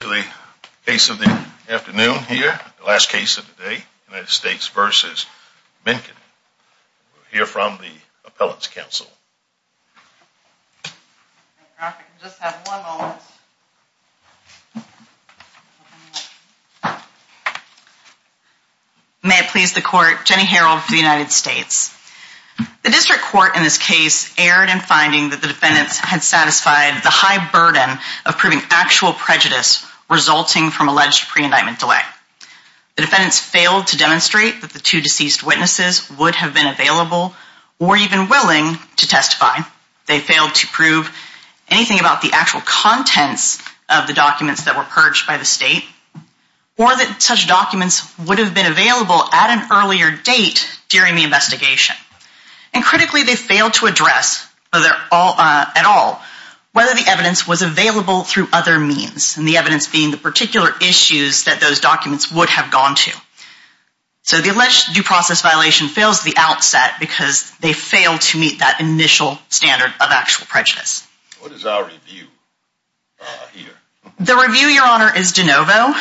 The case of the afternoon here, the last case of the day, United States v. Minkkinen. We'll hear from the appellant's counsel. May it please the court, Jenny Harreld for the United States. The district court in this case erred in finding that the defendants had satisfied the high burden of proving actual prejudice resulting from alleged pre-indictment delay. The defendants failed to demonstrate that the two deceased witnesses would have been available or even willing to testify. They failed to prove anything about the actual contents of the documents that were purged by the state or that such documents would have been available at an earlier date during the investigation. And critically, they failed to address at all whether the evidence was available through other means, and the evidence being the particular issues that those documents would have gone to. So the alleged due process violation fails at the outset because they failed to meet that initial standard of actual prejudice. What is our review here? The review, Your Honor, is de novo.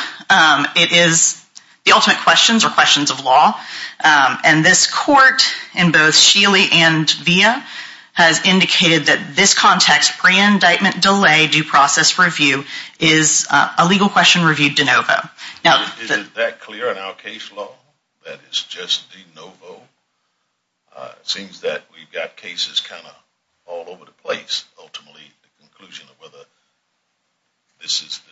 It is the ultimate questions or questions of law. And this court in both Sheely and Villa has indicated that this context, pre-indictment delay due process review, is a legal question reviewed de novo. Is it that clear in our case law that it's just de novo? It seems that we've got cases kind of all over the place, ultimately, the conclusion of whether this is de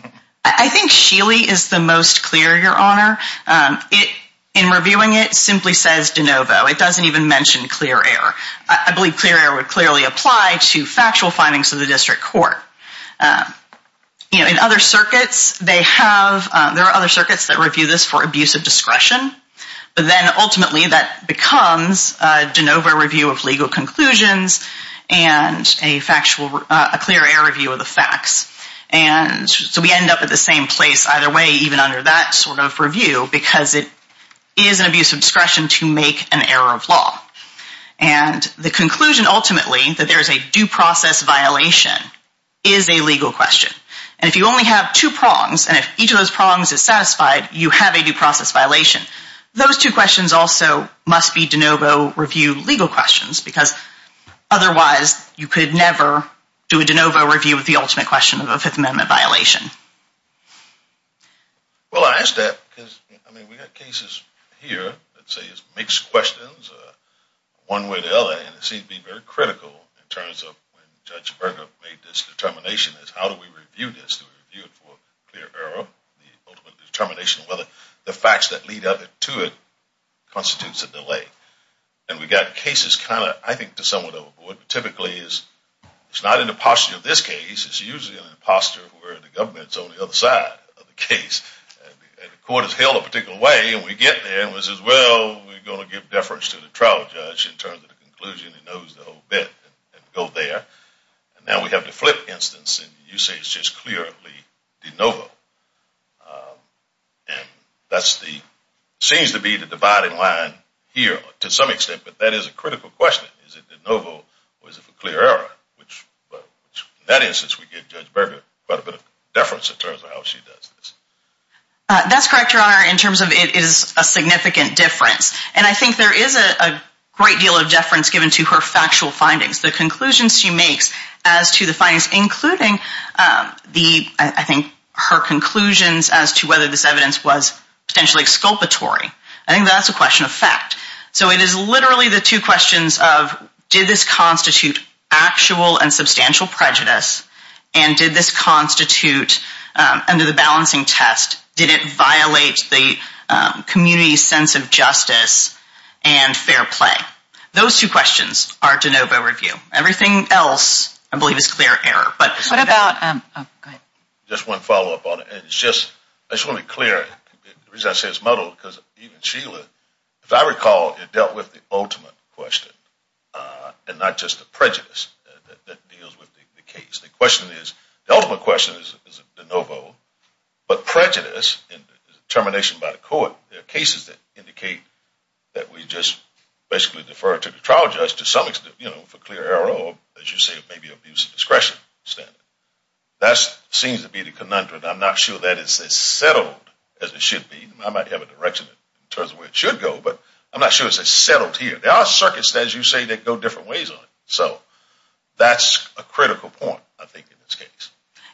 novo. I think Sheely is the most clear, Your Honor. In reviewing it, it simply says de novo. It doesn't even mention clear error. I believe clear error would clearly apply to factual findings of the district court. In other circuits, there are other circuits that review this for abuse of discretion. But then ultimately that becomes a de novo review of legal conclusions and a clear error review of the facts. And so we end up at the same place either way, even under that sort of review, because it is an abuse of discretion to make an error of law. And the conclusion, ultimately, that there is a due process violation is a legal question. And if you only have two prongs, and if each of those prongs is satisfied, you have a due process violation. Those two questions also must be de novo review legal questions, because otherwise you could never do a de novo review of the ultimate question of a Fifth Amendment violation. Well, I ask that because, I mean, we've got cases here that say it's mixed questions one way or the other. And it seems to be very critical in terms of when Judge Berger made this determination is how do we review this? Do we review it for clear error, the ultimate determination of whether the facts that lead up to it constitutes a delay? And we've got cases kind of, I think, somewhat overboard. Typically, it's not in the posture of this case. It's usually in a posture where the government's on the other side of the case. And the court has held a particular way, and we get there, and we say, well, we're going to give deference to the trial judge in terms of the conclusion. He knows the whole bit, and go there. And now we have the flip instance, and you say it's just clearly de novo. And that seems to be the dividing line here to some extent, but that is a critical question. Is it de novo or is it for clear error, which in that instance we give Judge Berger quite a bit of deference in terms of how she does this. That's correct, Your Honor, in terms of it is a significant difference. And I think there is a great deal of deference given to her factual findings, the conclusions she makes as to the findings, including the, I think, her conclusions as to whether this evidence was potentially exculpatory. I think that's a question of fact. So it is literally the two questions of did this constitute actual and substantial prejudice, and did this constitute under the balancing test, did it violate the community's sense of justice and fair play. Those two questions are de novo review. Everything else, I believe, is clear error. What about, oh, go ahead. Just one follow-up on it. I just want to be clear. The reason I say it's muddled is because even Sheila, if I recall, it dealt with the ultimate question and not just the prejudice that deals with the case. The ultimate question is de novo, but prejudice and determination by the court, there are cases that indicate that we just basically defer to the trial judge to some extent for clear error, or as you say, maybe abuse of discretion. That seems to be the conundrum. I'm not sure that it's as settled as it should be. I might have a direction in terms of where it should go, but I'm not sure it's as settled here. There are circuits, as you say, that go different ways on it. So that's a critical point, I think, in this case.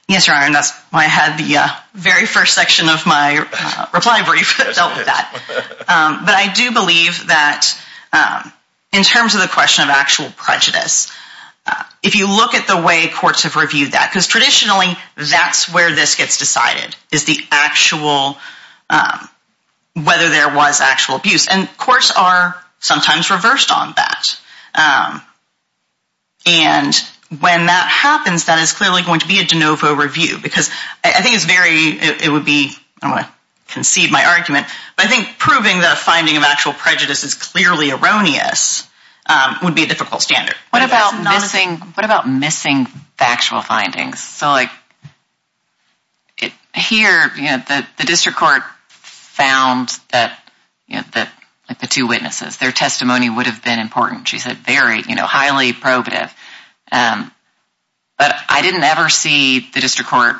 Yes, Your Honor, and that's why I had the very first section of my reply brief that dealt with that. But I do believe that in terms of the question of actual prejudice, if you look at the way courts have reviewed that, because traditionally that's where this gets decided, is the actual, whether there was actual abuse, and courts are sometimes reversed on that. And when that happens, that is clearly going to be a de novo review, because I think it's very, it would be, I don't want to concede my argument, but I think proving that a finding of actual prejudice is clearly erroneous would be a difficult standard. What about missing factual findings? So like, here, the district court found that the two witnesses, their testimony would have been important. She said very, you know, highly probative. But I didn't ever see the district court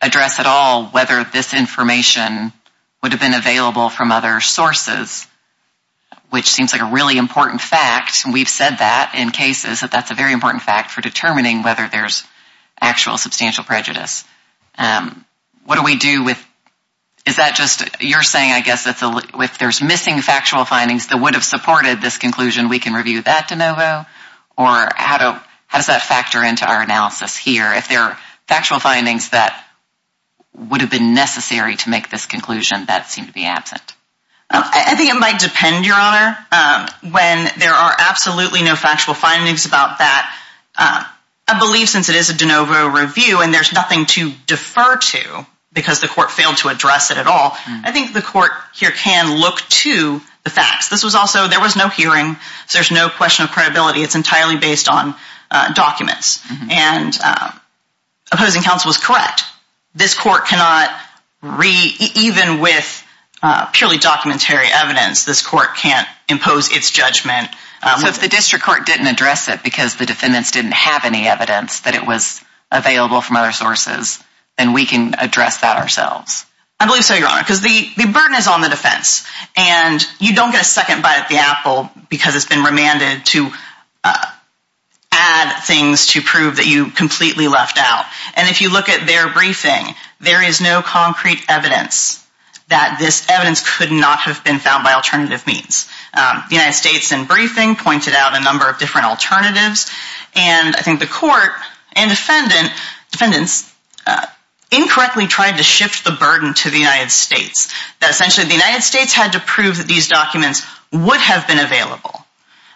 address at all whether this information would have been available from other sources, which seems like a really important fact. We've said that in cases, that that's a very important fact for determining whether there's actual substantial prejudice. What do we do with, is that just, you're saying, I guess, if there's missing factual findings that would have supported this conclusion, we can review that de novo? Or how does that factor into our analysis here? If there are factual findings that would have been necessary to make this conclusion that seem to be absent. I think it might depend, Your Honor. When there are absolutely no factual findings about that, I believe since it is a de novo review and there's nothing to defer to, because the court failed to address it at all, I think the court here can look to the facts. This was also, there was no hearing, so there's no question of credibility. It's entirely based on documents. And opposing counsel was correct. This court cannot, even with purely documentary evidence, this court can't impose its judgment. So if the district court didn't address it because the defendants didn't have any evidence that it was available from other sources, then we can address that ourselves. I believe so, Your Honor, because the burden is on the defense. And you don't get a second bite of the apple because it's been remanded to add things to prove that you completely left out. And if you look at their briefing, there is no concrete evidence that this evidence could not have been found by alternative means. The United States, in briefing, pointed out a number of different alternatives. And I think the court and defendants incorrectly tried to shift the burden to the United States. That essentially the United States had to prove that these documents would have been available.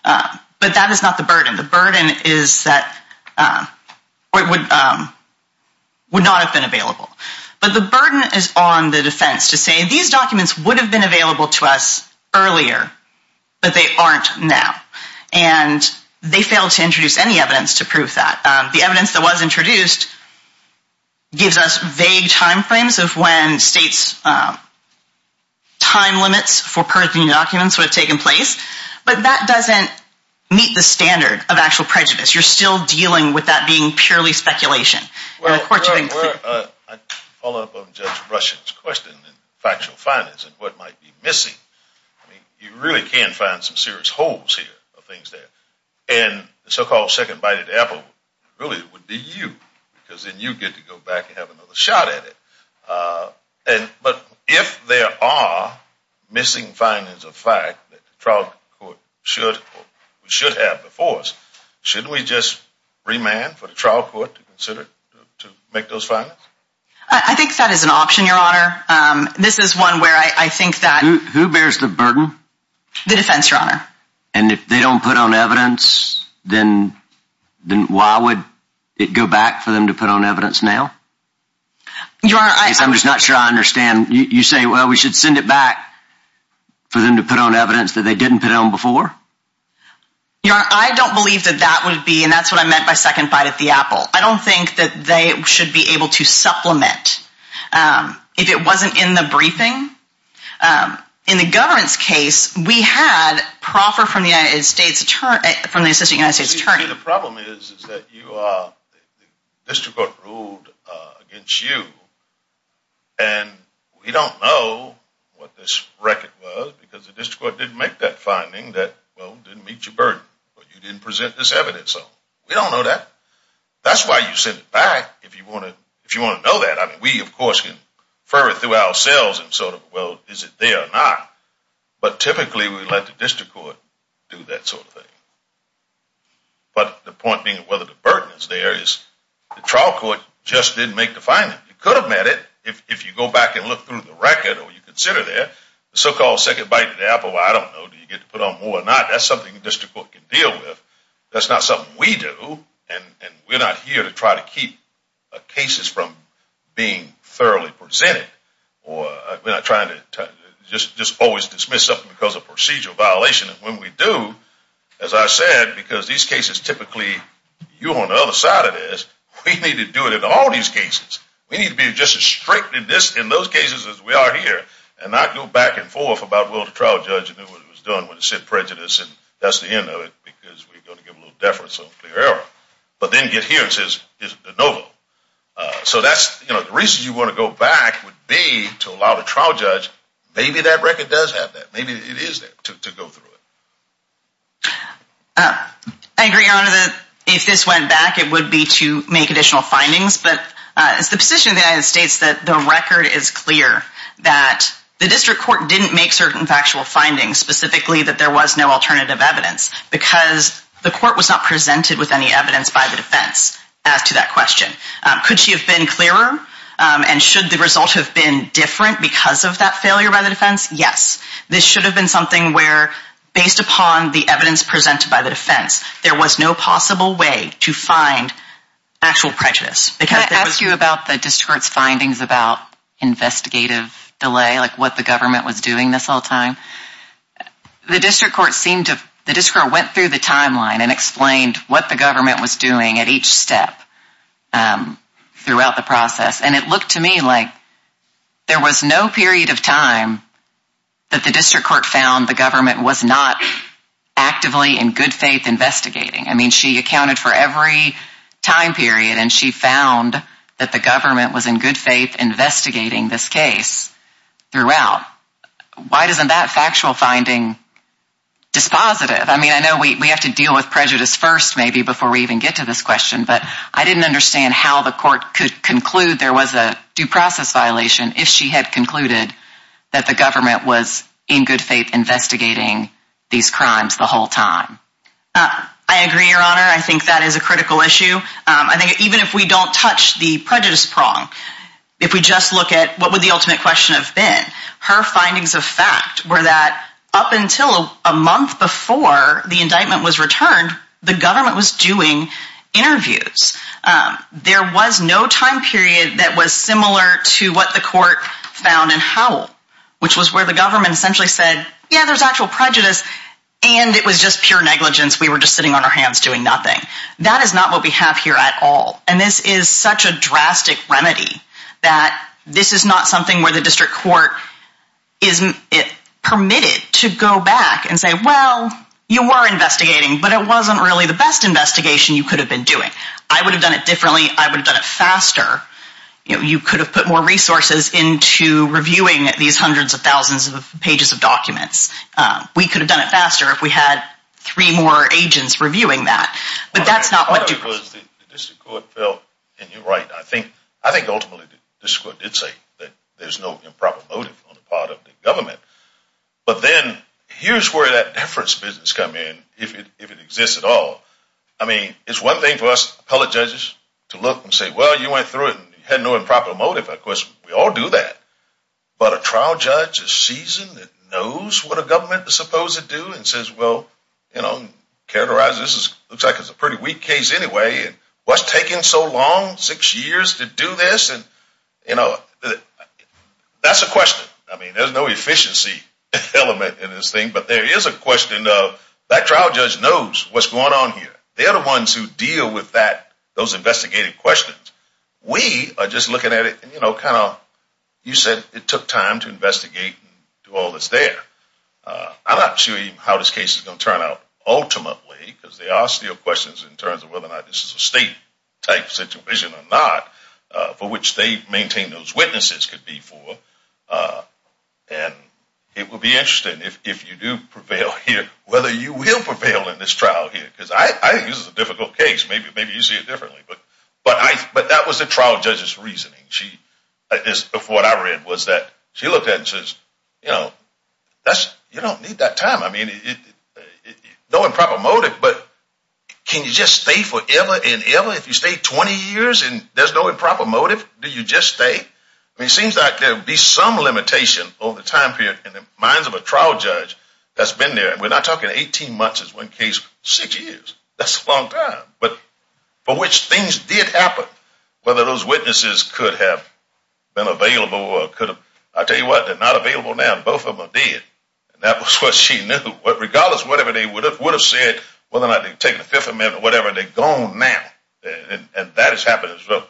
But that is not the burden. The burden is that it would not have been available. But the burden is on the defense to say these documents would have been available to us earlier, but they aren't now. And they failed to introduce any evidence to prove that. The evidence that was introduced gives us vague time frames of when states' time limits for purging documents would have taken place. But that doesn't meet the standard of actual prejudice. You're still dealing with that being purely speculation. And the court should be clear. Well, to follow up on Judge Rushen's question and factual findings and what might be missing, I mean, you really can find some serious holes here or things there. And the so-called second-bited apple really would be you, because then you get to go back and have another shot at it. But if there are missing findings of fact that the trial court should have before us, shouldn't we just remand for the trial court to consider to make those findings? I think that is an option, Your Honor. This is one where I think that— Who bears the burden? The defense, Your Honor. And if they don't put on evidence, then why would it go back for them to put on evidence now? Your Honor, I— Because I'm just not sure I understand. You say, well, we should send it back for them to put on evidence that they didn't put on before? Your Honor, I don't believe that that would be—and that's what I meant by second bite at the apple. If it wasn't in the briefing. In the government's case, we had proffer from the assistant United States attorney. See, the problem is that you are—the district court ruled against you, and we don't know what this record was because the district court didn't make that finding that, well, didn't meet your burden. You didn't present this evidence, so we don't know that. That's why you send it back if you want to know that. I mean, we, of course, can further through ourselves and sort of, well, is it there or not? But typically, we let the district court do that sort of thing. But the point being whether the burden is there is the trial court just didn't make the finding. You could have met it if you go back and look through the record or you consider there. The so-called second bite at the apple, I don't know, do you get to put on more or not? That's something the district court can deal with. That's not something we do, and we're not here to try to keep cases from being thoroughly presented. We're not trying to just always dismiss something because of procedural violation. And when we do, as I said, because these cases typically—you're on the other side of this. We need to do it in all these cases. We need to be just as strict in those cases as we are here and not go back and forth about will the trial judge do what he was doing when it said prejudice and that's the end of it because we're going to give a little deference or whatever. But then get here and it says it's de novo. So that's—the reason you want to go back would be to allow the trial judge, maybe that record does have that. Maybe it is there to go through it. I agree, Your Honor, that if this went back, it would be to make additional findings. But it's the position of the United States that the record is clear that the district court didn't make certain factual findings, specifically that there was no alternative evidence because the court was not presented with any evidence by the defense as to that question. Could she have been clearer, and should the result have been different because of that failure by the defense? Yes. This should have been something where, based upon the evidence presented by the defense, there was no possible way to find actual prejudice. Can I ask you about the district court's findings about investigative delay, like what the government was doing this whole time? The district court went through the timeline and explained what the government was doing at each step throughout the process. And it looked to me like there was no period of time that the district court found the government was not actively in good faith investigating. I mean, she accounted for every time period, and she found that the government was in good faith investigating this case throughout. Why isn't that factual finding dispositive? I mean, I know we have to deal with prejudice first, maybe, before we even get to this question. But I didn't understand how the court could conclude there was a due process violation if she had concluded that the government was in good faith investigating these crimes the whole time. I agree, Your Honor. I think that is a critical issue. I think even if we don't touch the prejudice prong, if we just look at what would the ultimate question have been, her findings of fact were that up until a month before the indictment was returned, the government was doing interviews. There was no time period that was similar to what the court found in Howell, which was where the government essentially said, yeah, there's actual prejudice, and it was just pure negligence. We were just sitting on our hands doing nothing. That is not what we have here at all, and this is such a drastic remedy that this is not something where the district court is permitted to go back and say, well, you were investigating, but it wasn't really the best investigation you could have been doing. I would have done it differently. I would have done it faster. You could have put more resources into reviewing these hundreds of thousands of pages of documents. We could have done it faster if we had three more agents reviewing that, but that's not what Duke was. I think ultimately the district court did say that there's no improper motive on the part of the government, but then here's where that deference business comes in, if it exists at all. I mean, it's one thing for us appellate judges to look and say, well, you went through it and had no improper motive. Of course, we all do that, but a trial judge is seasoned and knows what a government is supposed to do and says, well, characterize this. It looks like it's a pretty weak case anyway, and what's taking so long, six years to do this? That's a question. I mean, there's no efficiency element in this thing, but there is a question of that trial judge knows what's going on here. They are the ones who deal with those investigative questions. We are just looking at it and kind of, you said it took time to investigate and do all that's there. I'm not sure how this case is going to turn out ultimately, because there are still questions in terms of whether or not this is a state-type situation or not, for which they maintain those witnesses could be for, and it would be interesting if you do prevail here, whether you will prevail in this trial here. Because I think this is a difficult case. Maybe you see it differently, but that was the trial judge's reasoning. What I read was that she looked at it and says, you don't need that time. I mean, no improper motive, but can you just stay forever and ever? If you stay 20 years and there's no improper motive, do you just stay? I mean, it seems like there would be some limitation over the time period in the minds of a trial judge that's been there. And we're not talking 18 months is one case, six years. That's a long time. But for which things did happen, whether those witnesses could have been available or could have, I'll tell you what, they're not available now. Both of them are dead. And that was what she knew. Regardless of whatever they would have said, whether or not they had taken the Fifth Amendment or whatever, they're gone now. And that has happened as well,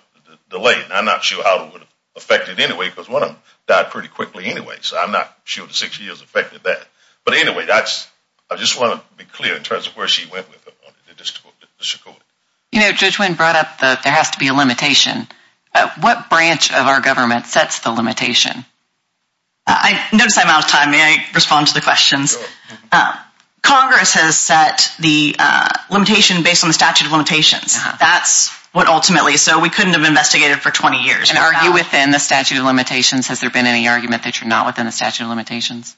delayed. And I'm not sure how it would have affected anyway, because one of them died pretty quickly anyway. So I'm not sure the six years affected that. But anyway, I just want to be clear in terms of where she went with it. Judge Wynn brought up that there has to be a limitation. What branch of our government sets the limitation? I notice I'm out of time. May I respond to the questions? Congress has set the limitation based on the statute of limitations. That's what ultimately. So we couldn't have investigated for 20 years. And are you within the statute of limitations? Has there been any argument that you're not within the statute of limitations?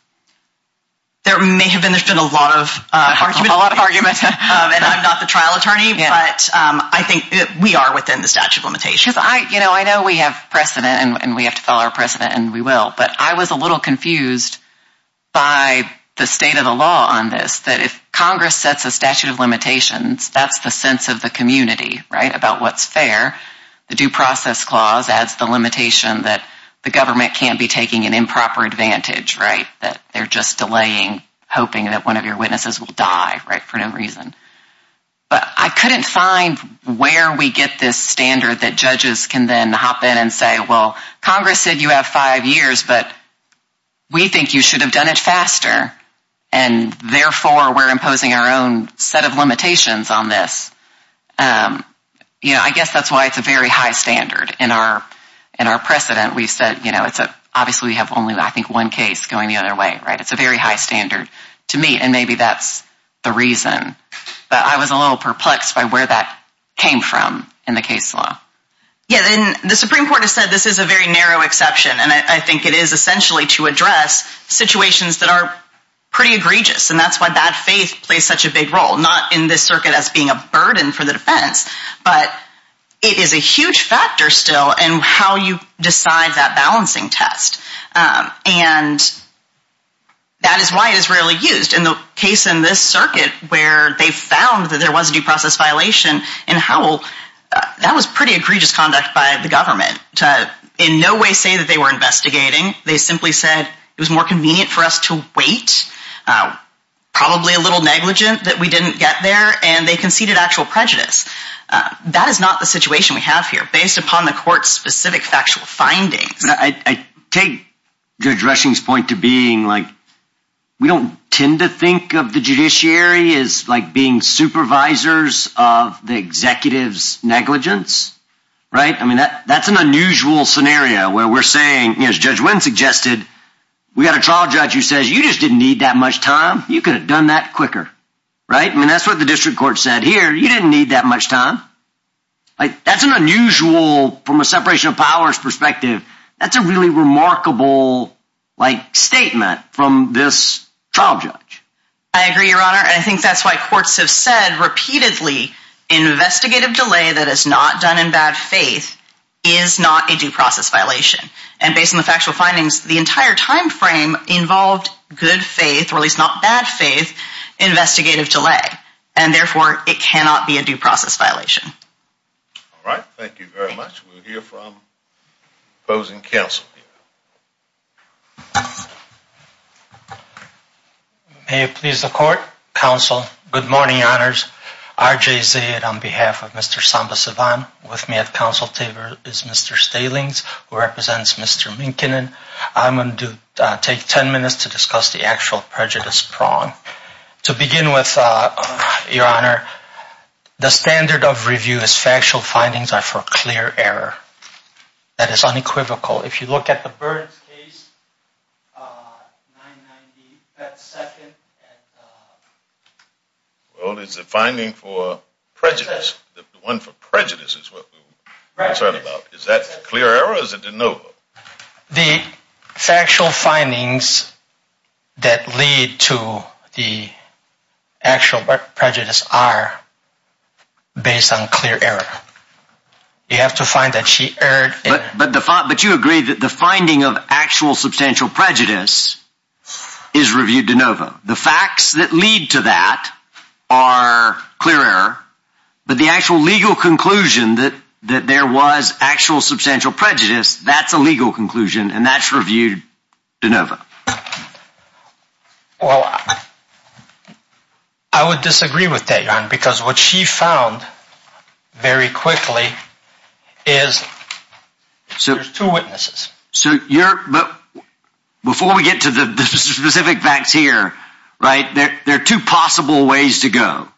There may have been. There's been a lot of argument. And I'm not the trial attorney, but I think we are within the statute of limitations. I know we have precedent, and we have to follow our precedent, and we will. But I was a little confused by the state of the law on this, that if Congress sets a statute of limitations, that's the sense of the community about what's fair. The Due Process Clause adds the limitation that the government can't be taking an improper advantage, that they're just delaying, hoping that one of your witnesses will die for no reason. But I couldn't find where we get this standard that judges can then hop in and say, well, Congress said you have five years, but we think you should have done it faster. And therefore, we're imposing our own set of limitations on this. You know, I guess that's why it's a very high standard in our precedent. We said, you know, it's obviously we have only, I think, one case going the other way. It's a very high standard to me, and maybe that's the reason. But I was a little perplexed by where that came from in the case law. Yeah, and the Supreme Court has said this is a very narrow exception, and I think it is essentially to address situations that are pretty egregious. And that's why bad faith plays such a big role, not in this circuit as being a burden for the defense. But it is a huge factor still in how you decide that balancing test. And that is why it is rarely used. In the case in this circuit where they found that there was a due process violation in Howell, that was pretty egregious conduct by the government to in no way say that they were investigating. They simply said it was more convenient for us to wait, probably a little negligent that we didn't get there, and they conceded actual prejudice. That is not the situation we have here based upon the court's specific factual findings. I take Judge Rushing's point to being like we don't tend to think of the judiciary as like being supervisors of the executive's negligence, right? I mean, that's an unusual scenario where we're saying, as Judge Wynn suggested, we got a trial judge who says you just didn't need that much time. You could have done that quicker, right? I mean, that's what the district court said here. You didn't need that much time. That's an unusual, from a separation of powers perspective, that's a really remarkable statement from this trial judge. I agree, Your Honor, and I think that's why courts have said repeatedly investigative delay that is not done in bad faith is not a due process violation. And based on the factual findings, the entire time frame involved good faith, or at least not bad faith, investigative delay. And therefore, it cannot be a due process violation. All right. Thank you very much. We'll hear from opposing counsel here. May it please the court. Counsel, good morning, Your Honors. R.J. Zaid on behalf of Mr. Samba-Sivan. With me at counsel table is Mr. Stalings, who represents Mr. Minkin. I'm going to take ten minutes to discuss the actual prejudice prong. To begin with, Your Honor, the standard of review is factual findings are for clear error. That is unequivocal. If you look at the Burns case, 990, that's second. Well, it's a finding for prejudice. The one for prejudice is what we're concerned about. Is that clear error or is it de novo? The factual findings that lead to the actual prejudice are based on clear error. You have to find that she erred. But you agree that the finding of actual substantial prejudice is reviewed de novo. The facts that lead to that are clear error. But the actual legal conclusion that there was actual substantial prejudice, that's a legal conclusion, and that's reviewed de novo. Well, I would disagree with that, Your Honor, because what she found very quickly is there's two witnesses. Before we get to the specific facts here, there are two possible ways to go.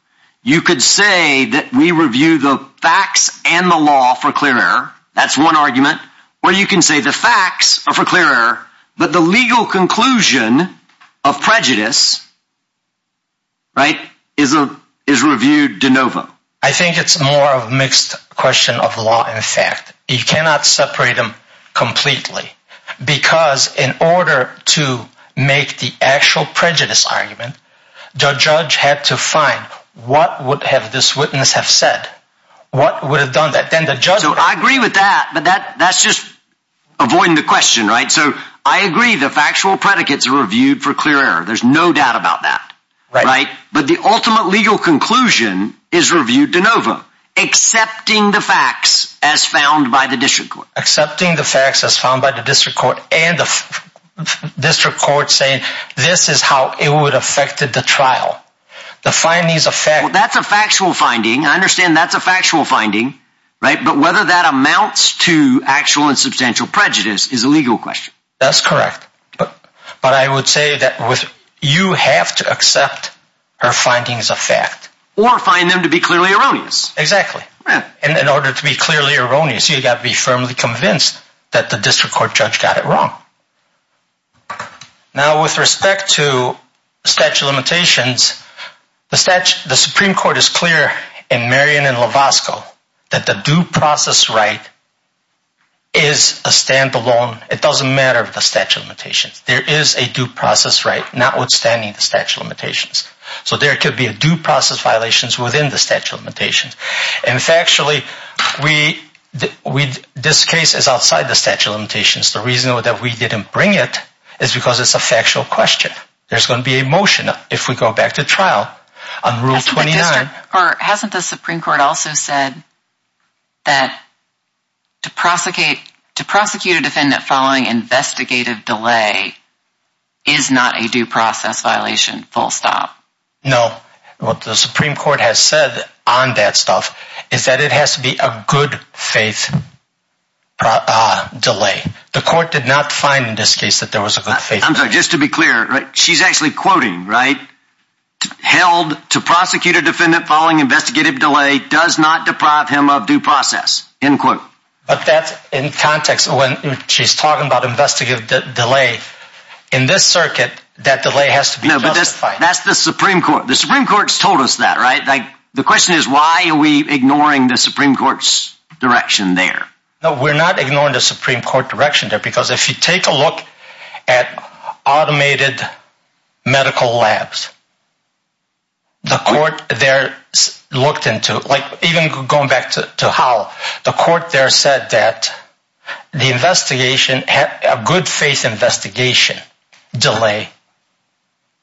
You could say that we review the facts and the law for clear error. That's one argument. Or you can say the facts are for clear error, but the legal conclusion of prejudice is reviewed de novo. I think it's more of a mixed question of law and fact. You cannot separate them completely because in order to make the actual prejudice argument, the judge had to find what would have this witness have said, what would have done that. So I agree with that, but that's just avoiding the question, right? So I agree the factual predicates are reviewed for clear error. There's no doubt about that. But the ultimate legal conclusion is reviewed de novo, accepting the facts as found by the district court. Accepting the facts as found by the district court and the district court saying this is how it would affect the trial. That's a factual finding. I understand that's a factual finding, but whether that amounts to actual and substantial prejudice is a legal question. That's correct. But I would say that you have to accept her findings of fact. Or find them to be clearly erroneous. Exactly. And in order to be clearly erroneous, you've got to be firmly convinced that the district court judge got it wrong. Now, with respect to statute of limitations, the Supreme Court is clear in Marion and Lovasco that the due process right is a standalone. It doesn't matter if the statute of limitations. There is a due process right notwithstanding the statute of limitations. So there could be a due process violations within the statute of limitations. And factually, this case is outside the statute of limitations. The reason that we didn't bring it is because it's a factual question. There's going to be a motion if we go back to trial on Rule 29. Hasn't the Supreme Court also said that to prosecute a defendant following investigative delay is not a due process violation, full stop? No. What the Supreme Court has said on that stuff is that it has to be a good faith delay. The court did not find in this case that there was a good faith delay. I'm sorry, just to be clear, she's actually quoting, right? Held to prosecute a defendant following investigative delay does not deprive him of due process, end quote. But that's in context when she's talking about investigative delay. In this circuit, that delay has to be justified. That's the Supreme Court. The Supreme Court's told us that, right? The question is why are we ignoring the Supreme Court's direction there? No, we're not ignoring the Supreme Court direction there because if you take a look at automated medical labs, the court there looked into it. Even going back to how the court there said that the investigation, a good faith investigation delay,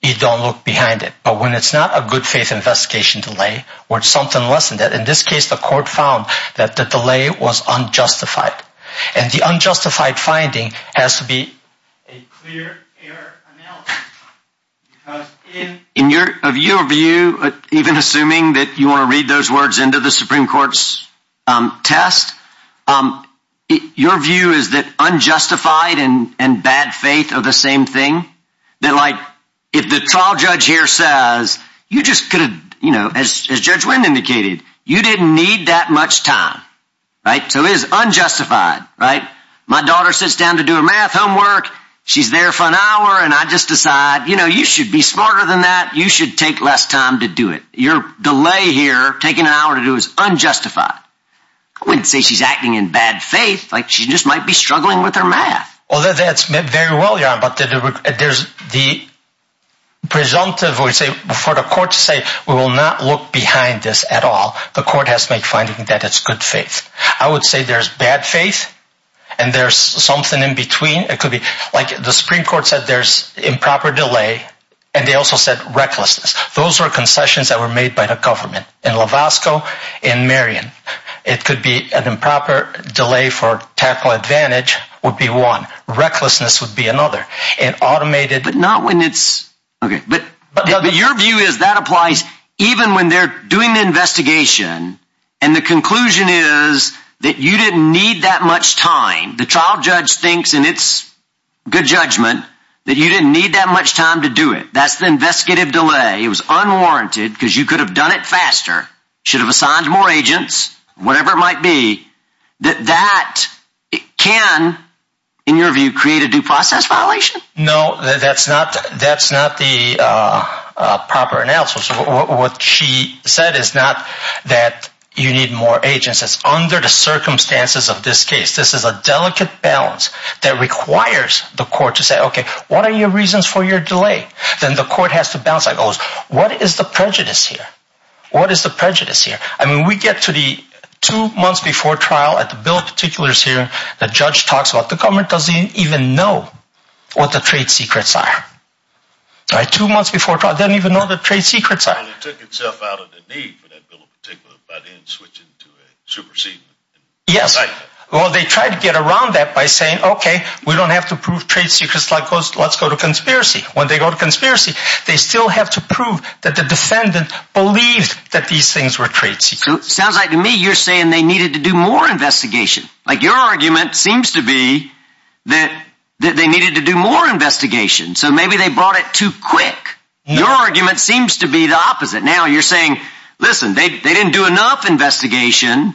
you don't look behind it. But when it's not a good faith investigation delay or something less than that, in this case, the court found that the delay was unjustified. And the unjustified finding has to be a clear error analysis. In your view, even assuming that you want to read those words into the Supreme Court's test, your view is that unjustified and bad faith are the same thing. They're like if the trial judge here says you just could have, you know, as Judge Wynn indicated, you didn't need that much time. Right. So is unjustified. Right. My daughter sits down to do her math homework. She's there for an hour and I just decide, you know, you should be smarter than that. You should take less time to do it. Your delay here taking an hour to do is unjustified. I wouldn't say she's acting in bad faith, like she just might be struggling with her math. Well, that's very well, but there's the presumptive for the court to say we will not look behind this at all. The court has to make finding that it's good faith. I would say there's bad faith and there's something in between. It could be like the Supreme Court said there's improper delay. And they also said recklessness. Those were concessions that were made by the government in Lovasco and Marion. It could be an improper delay for technical advantage would be one. Recklessness would be another and automated, but not when it's OK. But your view is that applies even when they're doing the investigation. And the conclusion is that you didn't need that much time. The trial judge thinks in its good judgment that you didn't need that much time to do it. That's the investigative delay. It was unwarranted because you could have done it faster. Should have assigned more agents, whatever it might be, that that can, in your view, create a due process violation. No, that's not that's not the proper analysis. What she said is not that you need more agents. It's under the circumstances of this case. This is a delicate balance that requires the court to say, OK, what are your reasons for your delay? Then the court has to bounce. I goes, what is the prejudice here? What is the prejudice here? I mean, we get to the two months before trial. I built particulars here. The judge talks about the government doesn't even know what the trade secrets are. So I two months before I didn't even know the trade secrets. It took itself out of the need for that bill in particular, but in switching to supersede. Yes. Well, they tried to get around that by saying, OK, we don't have to prove trade secrets like let's go to conspiracy. When they go to conspiracy, they still have to prove that the defendant believed that these things were trade secrets. Sounds like to me you're saying they needed to do more investigation. Like your argument seems to be that they needed to do more investigation. So maybe they brought it too quick. Your argument seems to be the opposite. Now you're saying, listen, they didn't do enough investigation.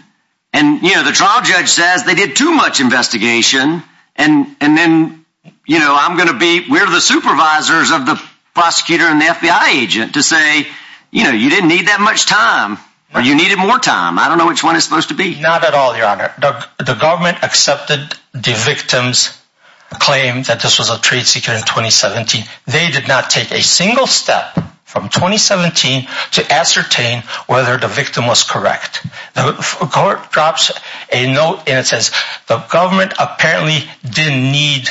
And, you know, the trial judge says they did too much investigation. And and then, you know, I'm going to be where the supervisors of the prosecutor and the FBI agent to say, you know, you didn't need that much time or you needed more time. I don't know which one is supposed to be. Not at all, your honor. The government accepted the victim's claim that this was a trade secret in 2017. They did not take a single step from 2017 to ascertain whether the victim was correct. The court drops a note and it says the government apparently didn't need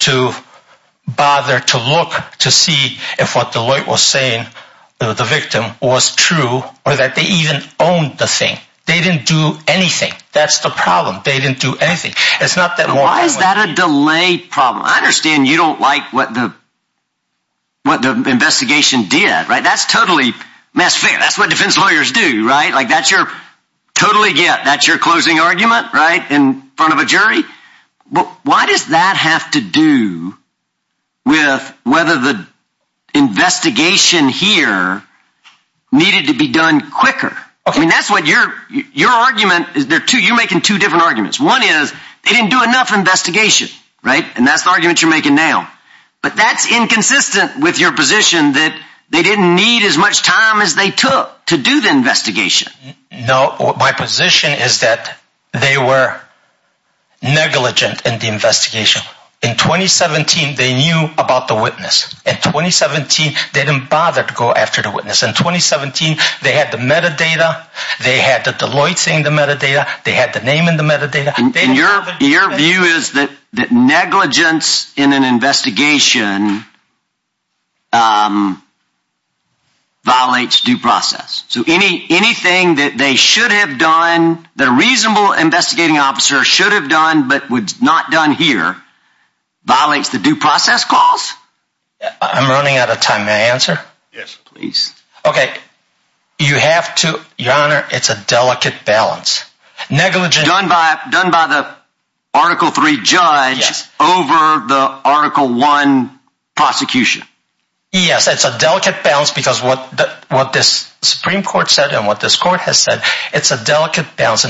to bother to look to see if what Deloitte was saying the victim was true or that they even owned the thing. They didn't do anything. That's the problem. They didn't do anything. It's not that. Why is that a delay problem? I understand you don't like what the. What the investigation did. Right. That's totally misfit. That's what defense lawyers do. Right. Like that's your totally get that's your closing argument right in front of a jury. But why does that have to do with whether the investigation here needed to be done quicker? I mean, that's what your your argument is there to you making two different arguments. One is they didn't do enough investigation. Right. And that's the argument you're making now. But that's inconsistent with your position that they didn't need as much time as they took to do the investigation. No. My position is that they were negligent in the investigation. In 2017, they knew about the witness at 2017. They didn't bother to go after the witness in 2017. They had the metadata. They had the Deloitte saying the metadata. They had the name in the metadata. And your your view is that that negligence in an investigation. Violates due process. So any anything that they should have done, the reasonable investigating officer should have done, but would not done here violates the due process calls. I'm running out of time. May I answer? Yes, please. OK, you have to your honor. It's a delicate balance. Negligent done by done by the Article three judge over the Article one prosecution. Yes, it's a delicate balance because what what this Supreme Court said and what this court has said, it's a delicate balance.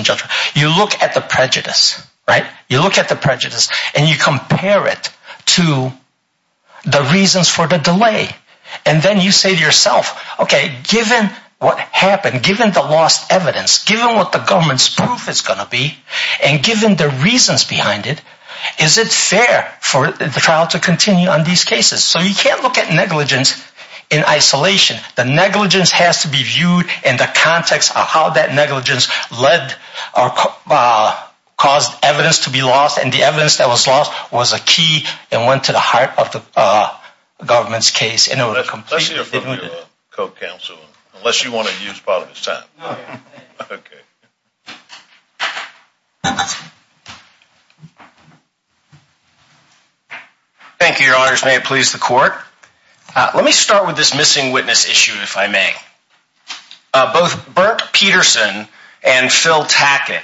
You look at the prejudice, right? You look at the prejudice and you compare it to the reasons for the delay. And then you say to yourself, OK, given what happened, given the lost evidence, given what the government's proof is going to be, and given the reasons behind it, is it fair for the trial to continue on these cases? So you can't look at negligence in isolation. The negligence has to be viewed in the context of how that negligence led or caused evidence to be lost. And the evidence that was lost was a key and went to the heart of the government's case. And it was a complete. Let's hear from your co-counsel unless you want to use part of his time. Thank you, your honors. May it please the court. Let me start with this missing witness issue, if I may. Both Bert Peterson and Phil Tackett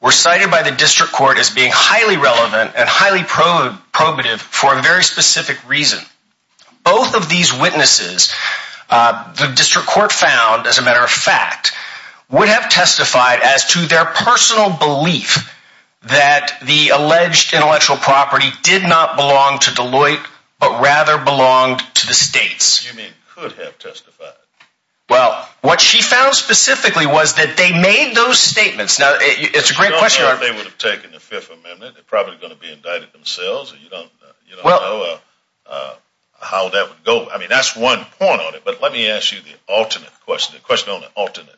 were cited by the district court as being highly relevant and highly probe probative for a very specific reason. Both of these witnesses, the district court found, as a matter of fact, would have testified as to their personal belief that the alleged intellectual property did not belong to Deloitte, but rather belonged to the states. You mean could have testified? Well, what she found specifically was that they made those statements. Now, it's a great question. I don't know if they would have taken the Fifth Amendment. They're probably going to be indicted themselves. You don't know how that would go. I mean, that's one point on it. But let me ask you the alternate question, the question on the alternate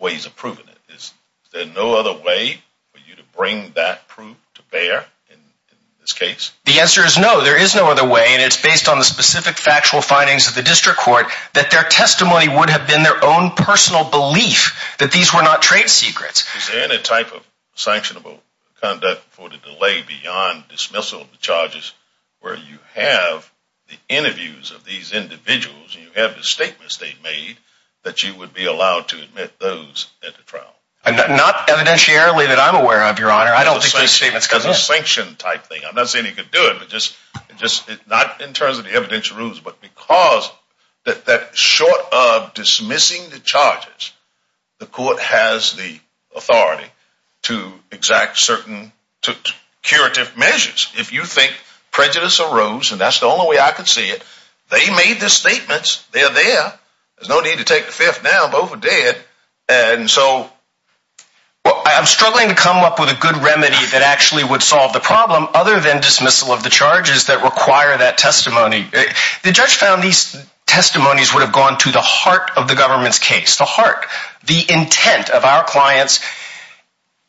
ways of proving it. Is there no other way for you to bring that proof to bear in this case? The answer is no. There is no other way, and it's based on the specific factual findings of the district court that their testimony would have been their own personal belief that these were not trade secrets. Is there any type of sanctionable conduct for the delay beyond dismissal of the charges where you have the interviews of these individuals and you have the statements they've made that you would be allowed to admit those at the trial? Not evidentiarily that I'm aware of, Your Honor. I don't think those statements come in. I'm not saying you could do it, but just not in terms of the evidential rules, but because short of dismissing the charges, the court has the authority to exact certain curative measures. If you think prejudice arose, and that's the only way I could see it, they made the statements. They're there. There's no need to take the Fifth now. Both are dead. Well, I'm struggling to come up with a good remedy that actually would solve the problem other than dismissal of the charges that require that testimony. The judge found these testimonies would have gone to the heart of the government's case, the heart, the intent of our clients.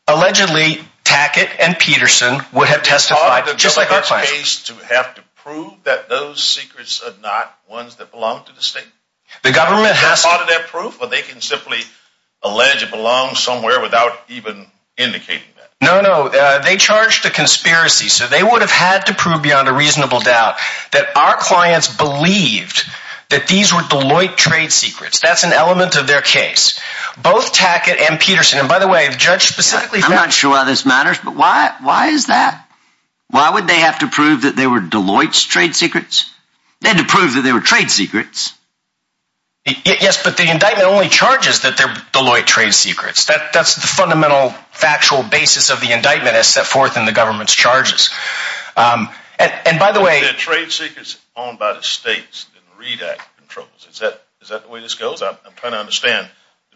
Allegedly, Tackett and Peterson would have testified just like our clients. To have to prove that those secrets are not ones that belong to the state? Is that part of their proof, or they can simply allege it belongs somewhere without even indicating that? No, no. They charged a conspiracy, so they would have had to prove beyond a reasonable doubt that our clients believed that these were Deloitte trade secrets. That's an element of their case. Both Tackett and Peterson, and by the way, the judge specifically found... I'm not sure why this matters, but why is that? Why would they have to prove that they were Deloitte's trade secrets? They had to prove that they were trade secrets. Yes, but the indictment only charges that they're Deloitte trade secrets. That's the fundamental factual basis of the indictment as set forth in the government's charges. And by the way... If they're trade secrets owned by the states, then the READ Act controls it. Is that the way this goes? I'm trying to understand...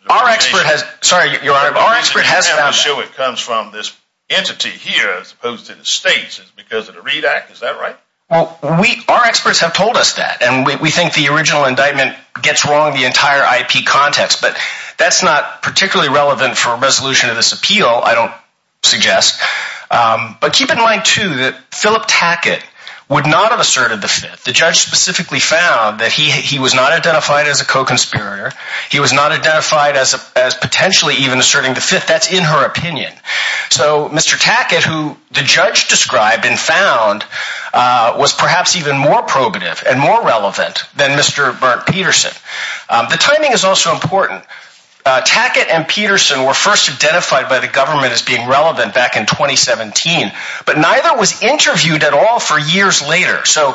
Our expert has... Sorry, Your Honor, but our expert has found that... The reason you have to show it comes from this entity here as opposed to the states is because of the READ Act. Is that right? Our experts have told us that, and we think the original indictment gets wrong the entire IP context, but that's not particularly relevant for a resolution of this appeal, I don't suggest. But keep in mind, too, that Philip Tackett would not have asserted the Fifth. The judge specifically found that he was not identified as a co-conspirator. He was not identified as potentially even asserting the Fifth. That's in her opinion. So, Mr. Tackett, who the judge described and found, was perhaps even more probative and more relevant than Mr. Burnt Peterson. The timing is also important. Tackett and Peterson were first identified by the government as being relevant back in 2017, but neither was interviewed at all for years later. So,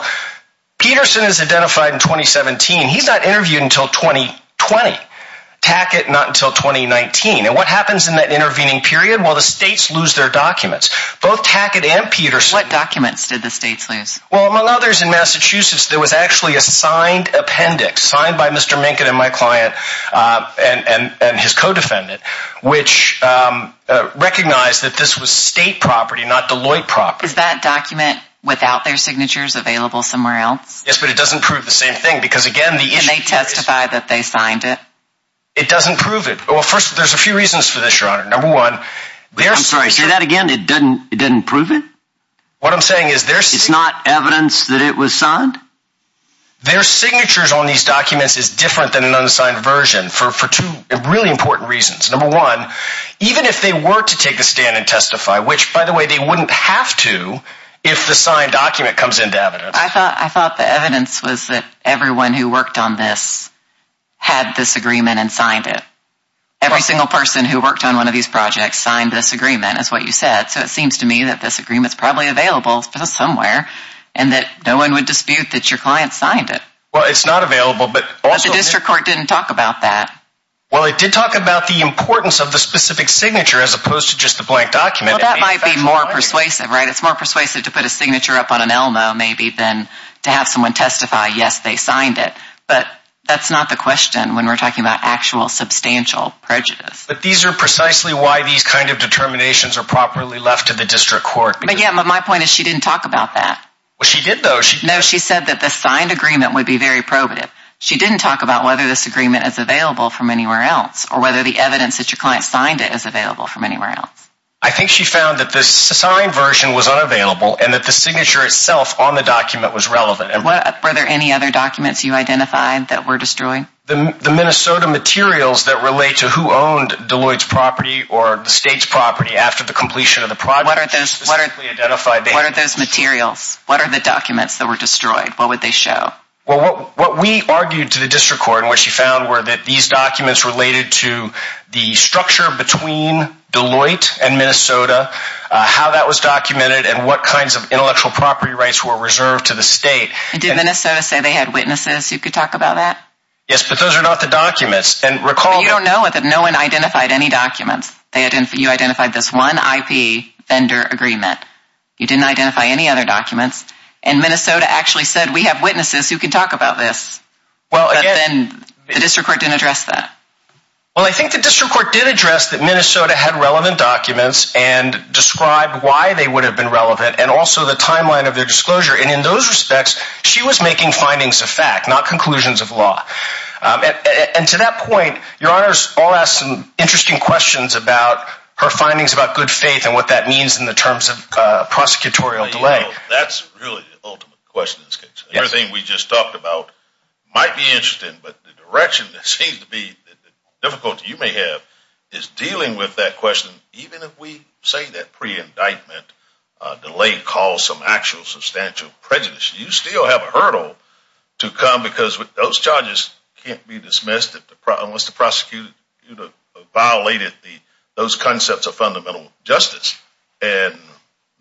Peterson is identified in 2017. He's not interviewed until 2020. Tackett, not until 2019. And what happens in that intervening period? Well, the states lose their documents. Both Tackett and Peterson... What documents did the states lose? Well, among others, in Massachusetts, there was actually a signed appendix, signed by Mr. Minkin and my client and his co-defendant, which recognized that this was state property, not Deloitte property. Is that document without their signatures available somewhere else? Yes, but it doesn't prove the same thing because, again, the issue is... Can they testify that they signed it? It doesn't prove it. Well, first, there's a few reasons for this, Your Honor. Number one... I'm sorry, say that again. It didn't prove it? What I'm saying is... It's not evidence that it was signed? Their signatures on these documents is different than an unsigned version for two really important reasons. Number one, even if they were to take a stand and testify, which, by the way, they wouldn't have to if the signed document comes into evidence. I thought the evidence was that everyone who worked on this had this agreement and signed it. Every single person who worked on one of these projects signed this agreement, is what you said. So it seems to me that this agreement is probably available somewhere and that no one would dispute that your client signed it. Well, it's not available, but also... But the district court didn't talk about that. Well, it did talk about the importance of the specific signature as opposed to just the blank document. Well, that might be more persuasive, right? It's more persuasive to put a signature up on an Elmo, maybe, than to have someone testify, yes, they signed it. But that's not the question when we're talking about actual substantial prejudice. But these are precisely why these kind of determinations are properly left to the district court. But, yeah, my point is she didn't talk about that. Well, she did, though. No, she said that the signed agreement would be very probative. She didn't talk about whether this agreement is available from anywhere else or whether the evidence that your client signed it is available from anywhere else. I think she found that the signed version was unavailable and that the signature itself on the document was relevant. Were there any other documents you identified that were destroyed? The Minnesota materials that relate to who owned Deloitte's property or the state's property after the completion of the project. What are those materials? What are the documents that were destroyed? What would they show? Well, what we argued to the district court and what she found were that these documents related to the structure between Deloitte and Minnesota, how that was documented, and what kinds of intellectual property rights were reserved to the state. Did Minnesota say they had witnesses who could talk about that? Yes, but those are not the documents. But you don't know that no one identified any documents. You identified this one IP vendor agreement. You didn't identify any other documents. And Minnesota actually said, we have witnesses who can talk about this. But then the district court didn't address that. Well, I think the district court did address that Minnesota had relevant documents and described why they would have been relevant and also the timeline of their disclosure. And in those respects, she was making findings of fact, not conclusions of law. And to that point, Your Honors, I'll ask some interesting questions about her findings about good faith and what that means in the terms of prosecutorial delay. That's really the ultimate question in this case. Everything we just talked about might be interesting, but the direction that seems to be the difficulty you may have is dealing with that question. Even if we say that pre-indictment delay caused some actual substantial prejudice, you still have a hurdle to come because those charges can't be dismissed unless the prosecutor violated those concepts of fundamental justice. And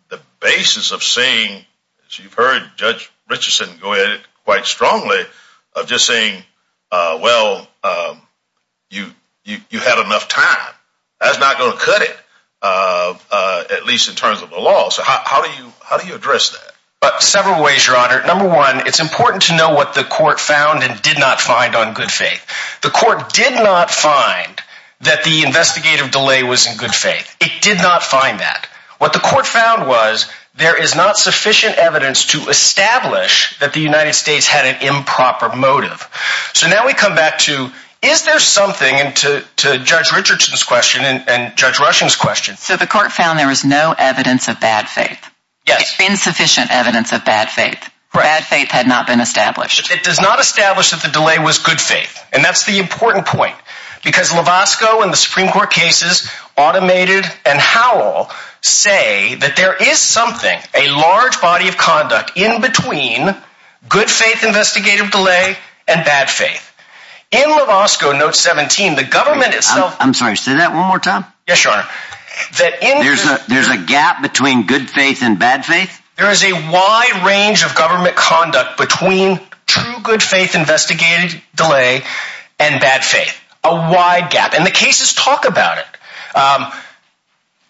the basis of saying, as you've heard Judge Richardson go at it quite strongly, of just saying, well, you had enough time. That's not going to cut it, at least in terms of the law. So how do you address that? Several ways, Your Honor. Number one, it's important to know what the court found and did not find on good faith. The court did not find that the investigative delay was in good faith. It did not find that. What the court found was there is not sufficient evidence to establish that the United States had an improper motive. So now we come back to, is there something, and to Judge Richardson's question and Judge Rushing's question. So the court found there was no evidence of bad faith. Yes. Insufficient evidence of bad faith. Bad faith had not been established. It does not establish that the delay was good faith. And that's the important point. Because Lovasco and the Supreme Court cases, automated and Howell, say that there is something, a large body of conduct, in between good faith investigative delay and bad faith. In Lovasco, note 17, the government itself. I'm sorry, say that one more time. Yes, Your Honor. There's a gap between good faith and bad faith? There is a wide range of government conduct between true good faith investigative delay and bad faith. A wide gap. And the cases talk about it.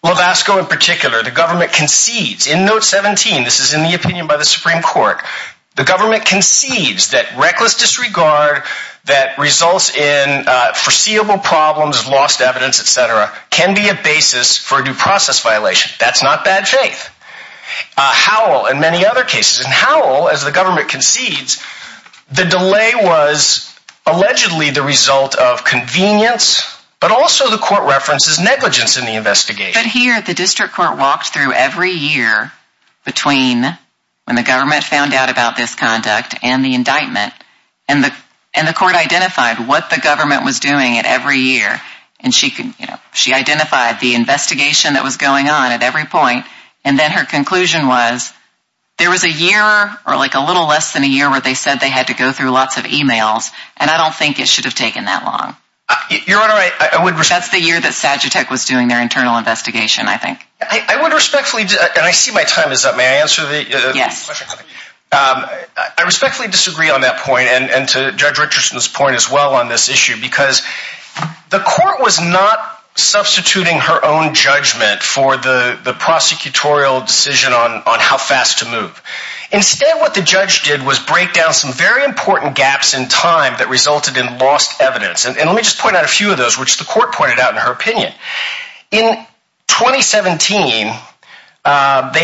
Lovasco in particular, the government concedes, in note 17, this is in the opinion by the Supreme Court, the government concedes that reckless disregard that results in foreseeable problems, lost evidence, et cetera, can be a basis for a due process violation. That's not bad faith. Howell, and many other cases, and Howell, as the government concedes, the delay was allegedly the result of convenience, but also the court references negligence in the investigation. But here, the district court walked through every year between when the government found out about this conduct and the indictment, and the court identified what the government was doing at every year. And she identified the investigation that was going on at every point, and then her conclusion was there was a year, or like a little less than a year where they said they had to go through lots of e-mails, and I don't think it should have taken that long. Your Honor, I would respect. That's the year that Sagitek was doing their internal investigation, I think. I would respectfully, and I see my time is up. May I answer the question? Yes. I respectfully disagree on that point, and to Judge Richardson's point as well on this issue, because the court was not substituting her own judgment for the prosecutorial decision on how fast to move. Instead, what the judge did was break down some very important gaps in time that resulted in lost evidence. And let me just point out a few of those, which the court pointed out in her opinion. In 2017, they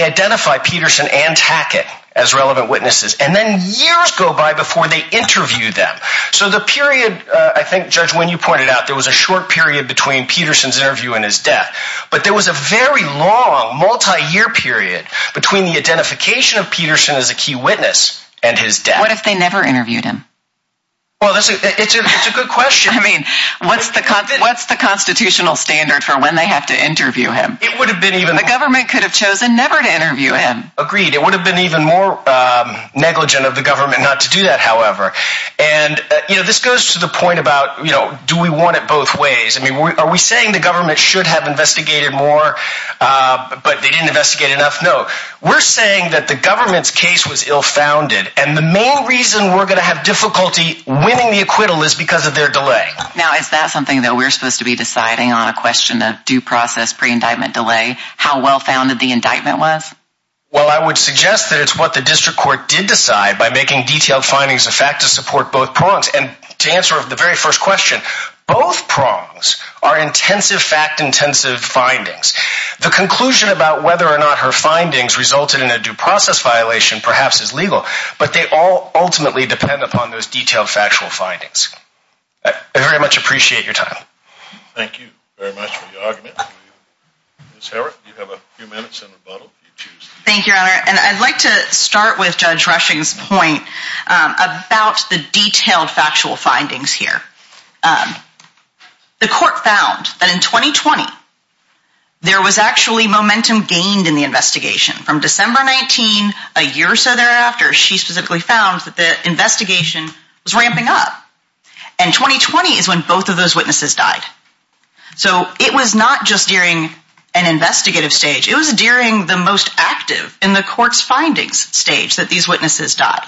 identify Peterson and Tackett as relevant witnesses, and then years go by before they interview them. So the period, I think, Judge Winn, you pointed out, there was a short period between Peterson's interview and his death. But there was a very long, multi-year period between the identification of Peterson as a key witness and his death. What if they never interviewed him? Well, it's a good question. I mean, what's the constitutional standard for when they have to interview him? The government could have chosen never to interview him. Agreed. It would have been even more negligent of the government not to do that, however. And this goes to the point about, do we want it both ways? Are we saying the government should have investigated more, but they didn't investigate enough? No. We're saying that the government's case was ill-founded, and the main reason we're going to have difficulty winning the acquittal is because of their delay. Now, is that something that we're supposed to be deciding on, a question of due process, pre-indictment delay, how well-founded the indictment was? Well, I would suggest that it's what the district court did decide by making detailed findings of fact to support both prongs. And to answer the very first question, both prongs are intensive fact-intensive findings. The conclusion about whether or not her findings resulted in a due process violation perhaps is legal, but they all ultimately depend upon those detailed factual findings. I very much appreciate your time. Thank you very much for your argument. Ms. Herrick, you have a few minutes in rebuttal if you choose. Thank you, Your Honor. And I'd like to start with Judge Rushing's point about the detailed factual findings here. The court found that in 2020, there was actually momentum gained in the investigation. From December 19, a year or so thereafter, she specifically found that the investigation was ramping up. And 2020 is when both of those witnesses died. So it was not just during an investigative stage, it was during the most active in the court's findings stage that these witnesses died.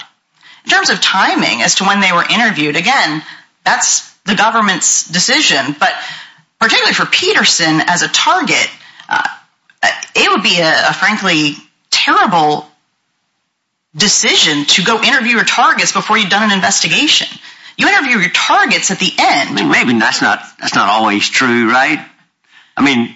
In terms of timing as to when they were interviewed, again, that's the government's decision. But particularly for Peterson as a target, it would be a frankly terrible decision to go interview your targets before you've done an investigation. You interview your targets at the end. Maybe that's not always true, right? I mean,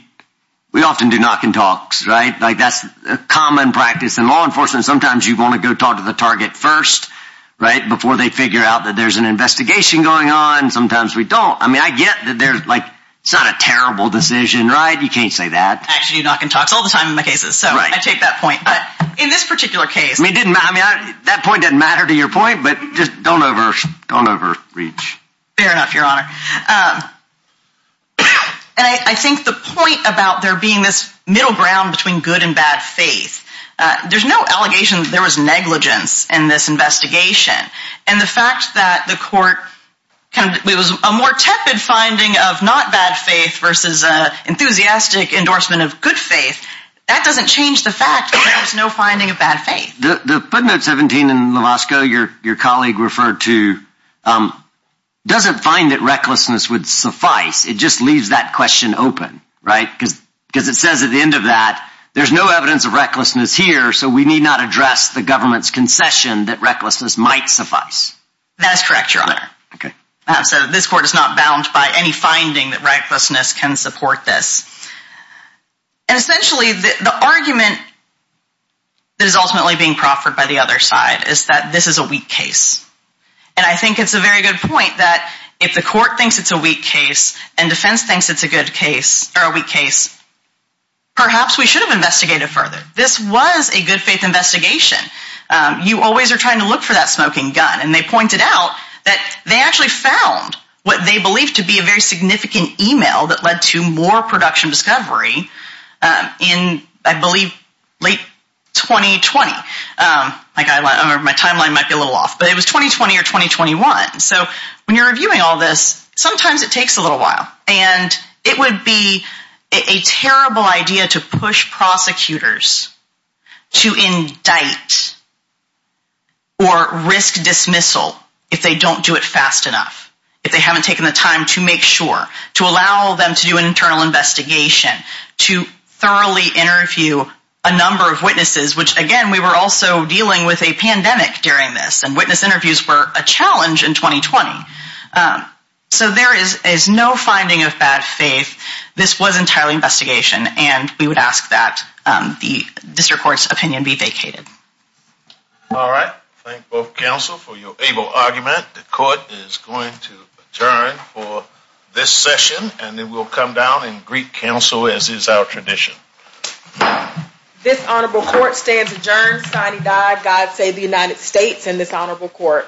we often do knock and talks, right? Like that's a common practice in law enforcement. Sometimes you want to go talk to the target first, right, before they figure out that there's an investigation going on. Sometimes we don't. I mean, I get that there's like, it's not a terrible decision, right? You can't say that. I actually do knock and talks all the time in my cases. So I take that point. But in this particular case... I mean, that point doesn't matter to your point, but just don't overreach. Fair enough, Your Honor. And I think the point about there being this middle ground between good and bad faith, there's no allegation that there was negligence in this investigation. And the fact that the court, it was a more tepid finding of not bad faith versus an enthusiastic endorsement of good faith, that doesn't change the fact that there was no finding of bad faith. The footnote 17 in Lovasco, your colleague referred to, doesn't find that recklessness would suffice. It just leaves that question open, right? Because it says at the end of that, there's no evidence of recklessness here, so we need not address the government's concession that recklessness might suffice. That is correct, Your Honor. So this court is not bound by any finding that recklessness can support this. And essentially, the argument that is ultimately being proffered by the other side is that this is a weak case. And I think it's a very good point that if the court thinks it's a weak case and defense thinks it's a good case, or a weak case, perhaps we should have investigated further. This was a good faith investigation. You always are trying to look for that smoking gun. And they pointed out that they actually found what they believed to be a very significant email that led to more production discovery in, I believe, late 2020. My timeline might be a little off, but it was 2020 or 2021. So when you're reviewing all this, sometimes it takes a little while. And it would be a terrible idea to push prosecutors to indict or risk dismissal if they don't do it fast enough, if they haven't taken the time to make sure, to allow them to do an internal investigation, to thoroughly interview a number of witnesses, which, again, we were also dealing with a pandemic during this, and witness interviews were a challenge in 2020. So there is no finding of bad faith. This was entirely investigation. And we would ask that the district court's opinion be vacated. All right. Thank both counsel for your able argument. The court is going to adjourn for this session, and then we'll come down and greet counsel as is our tradition. This honorable court stands adjourned. God save the United States and this honorable court.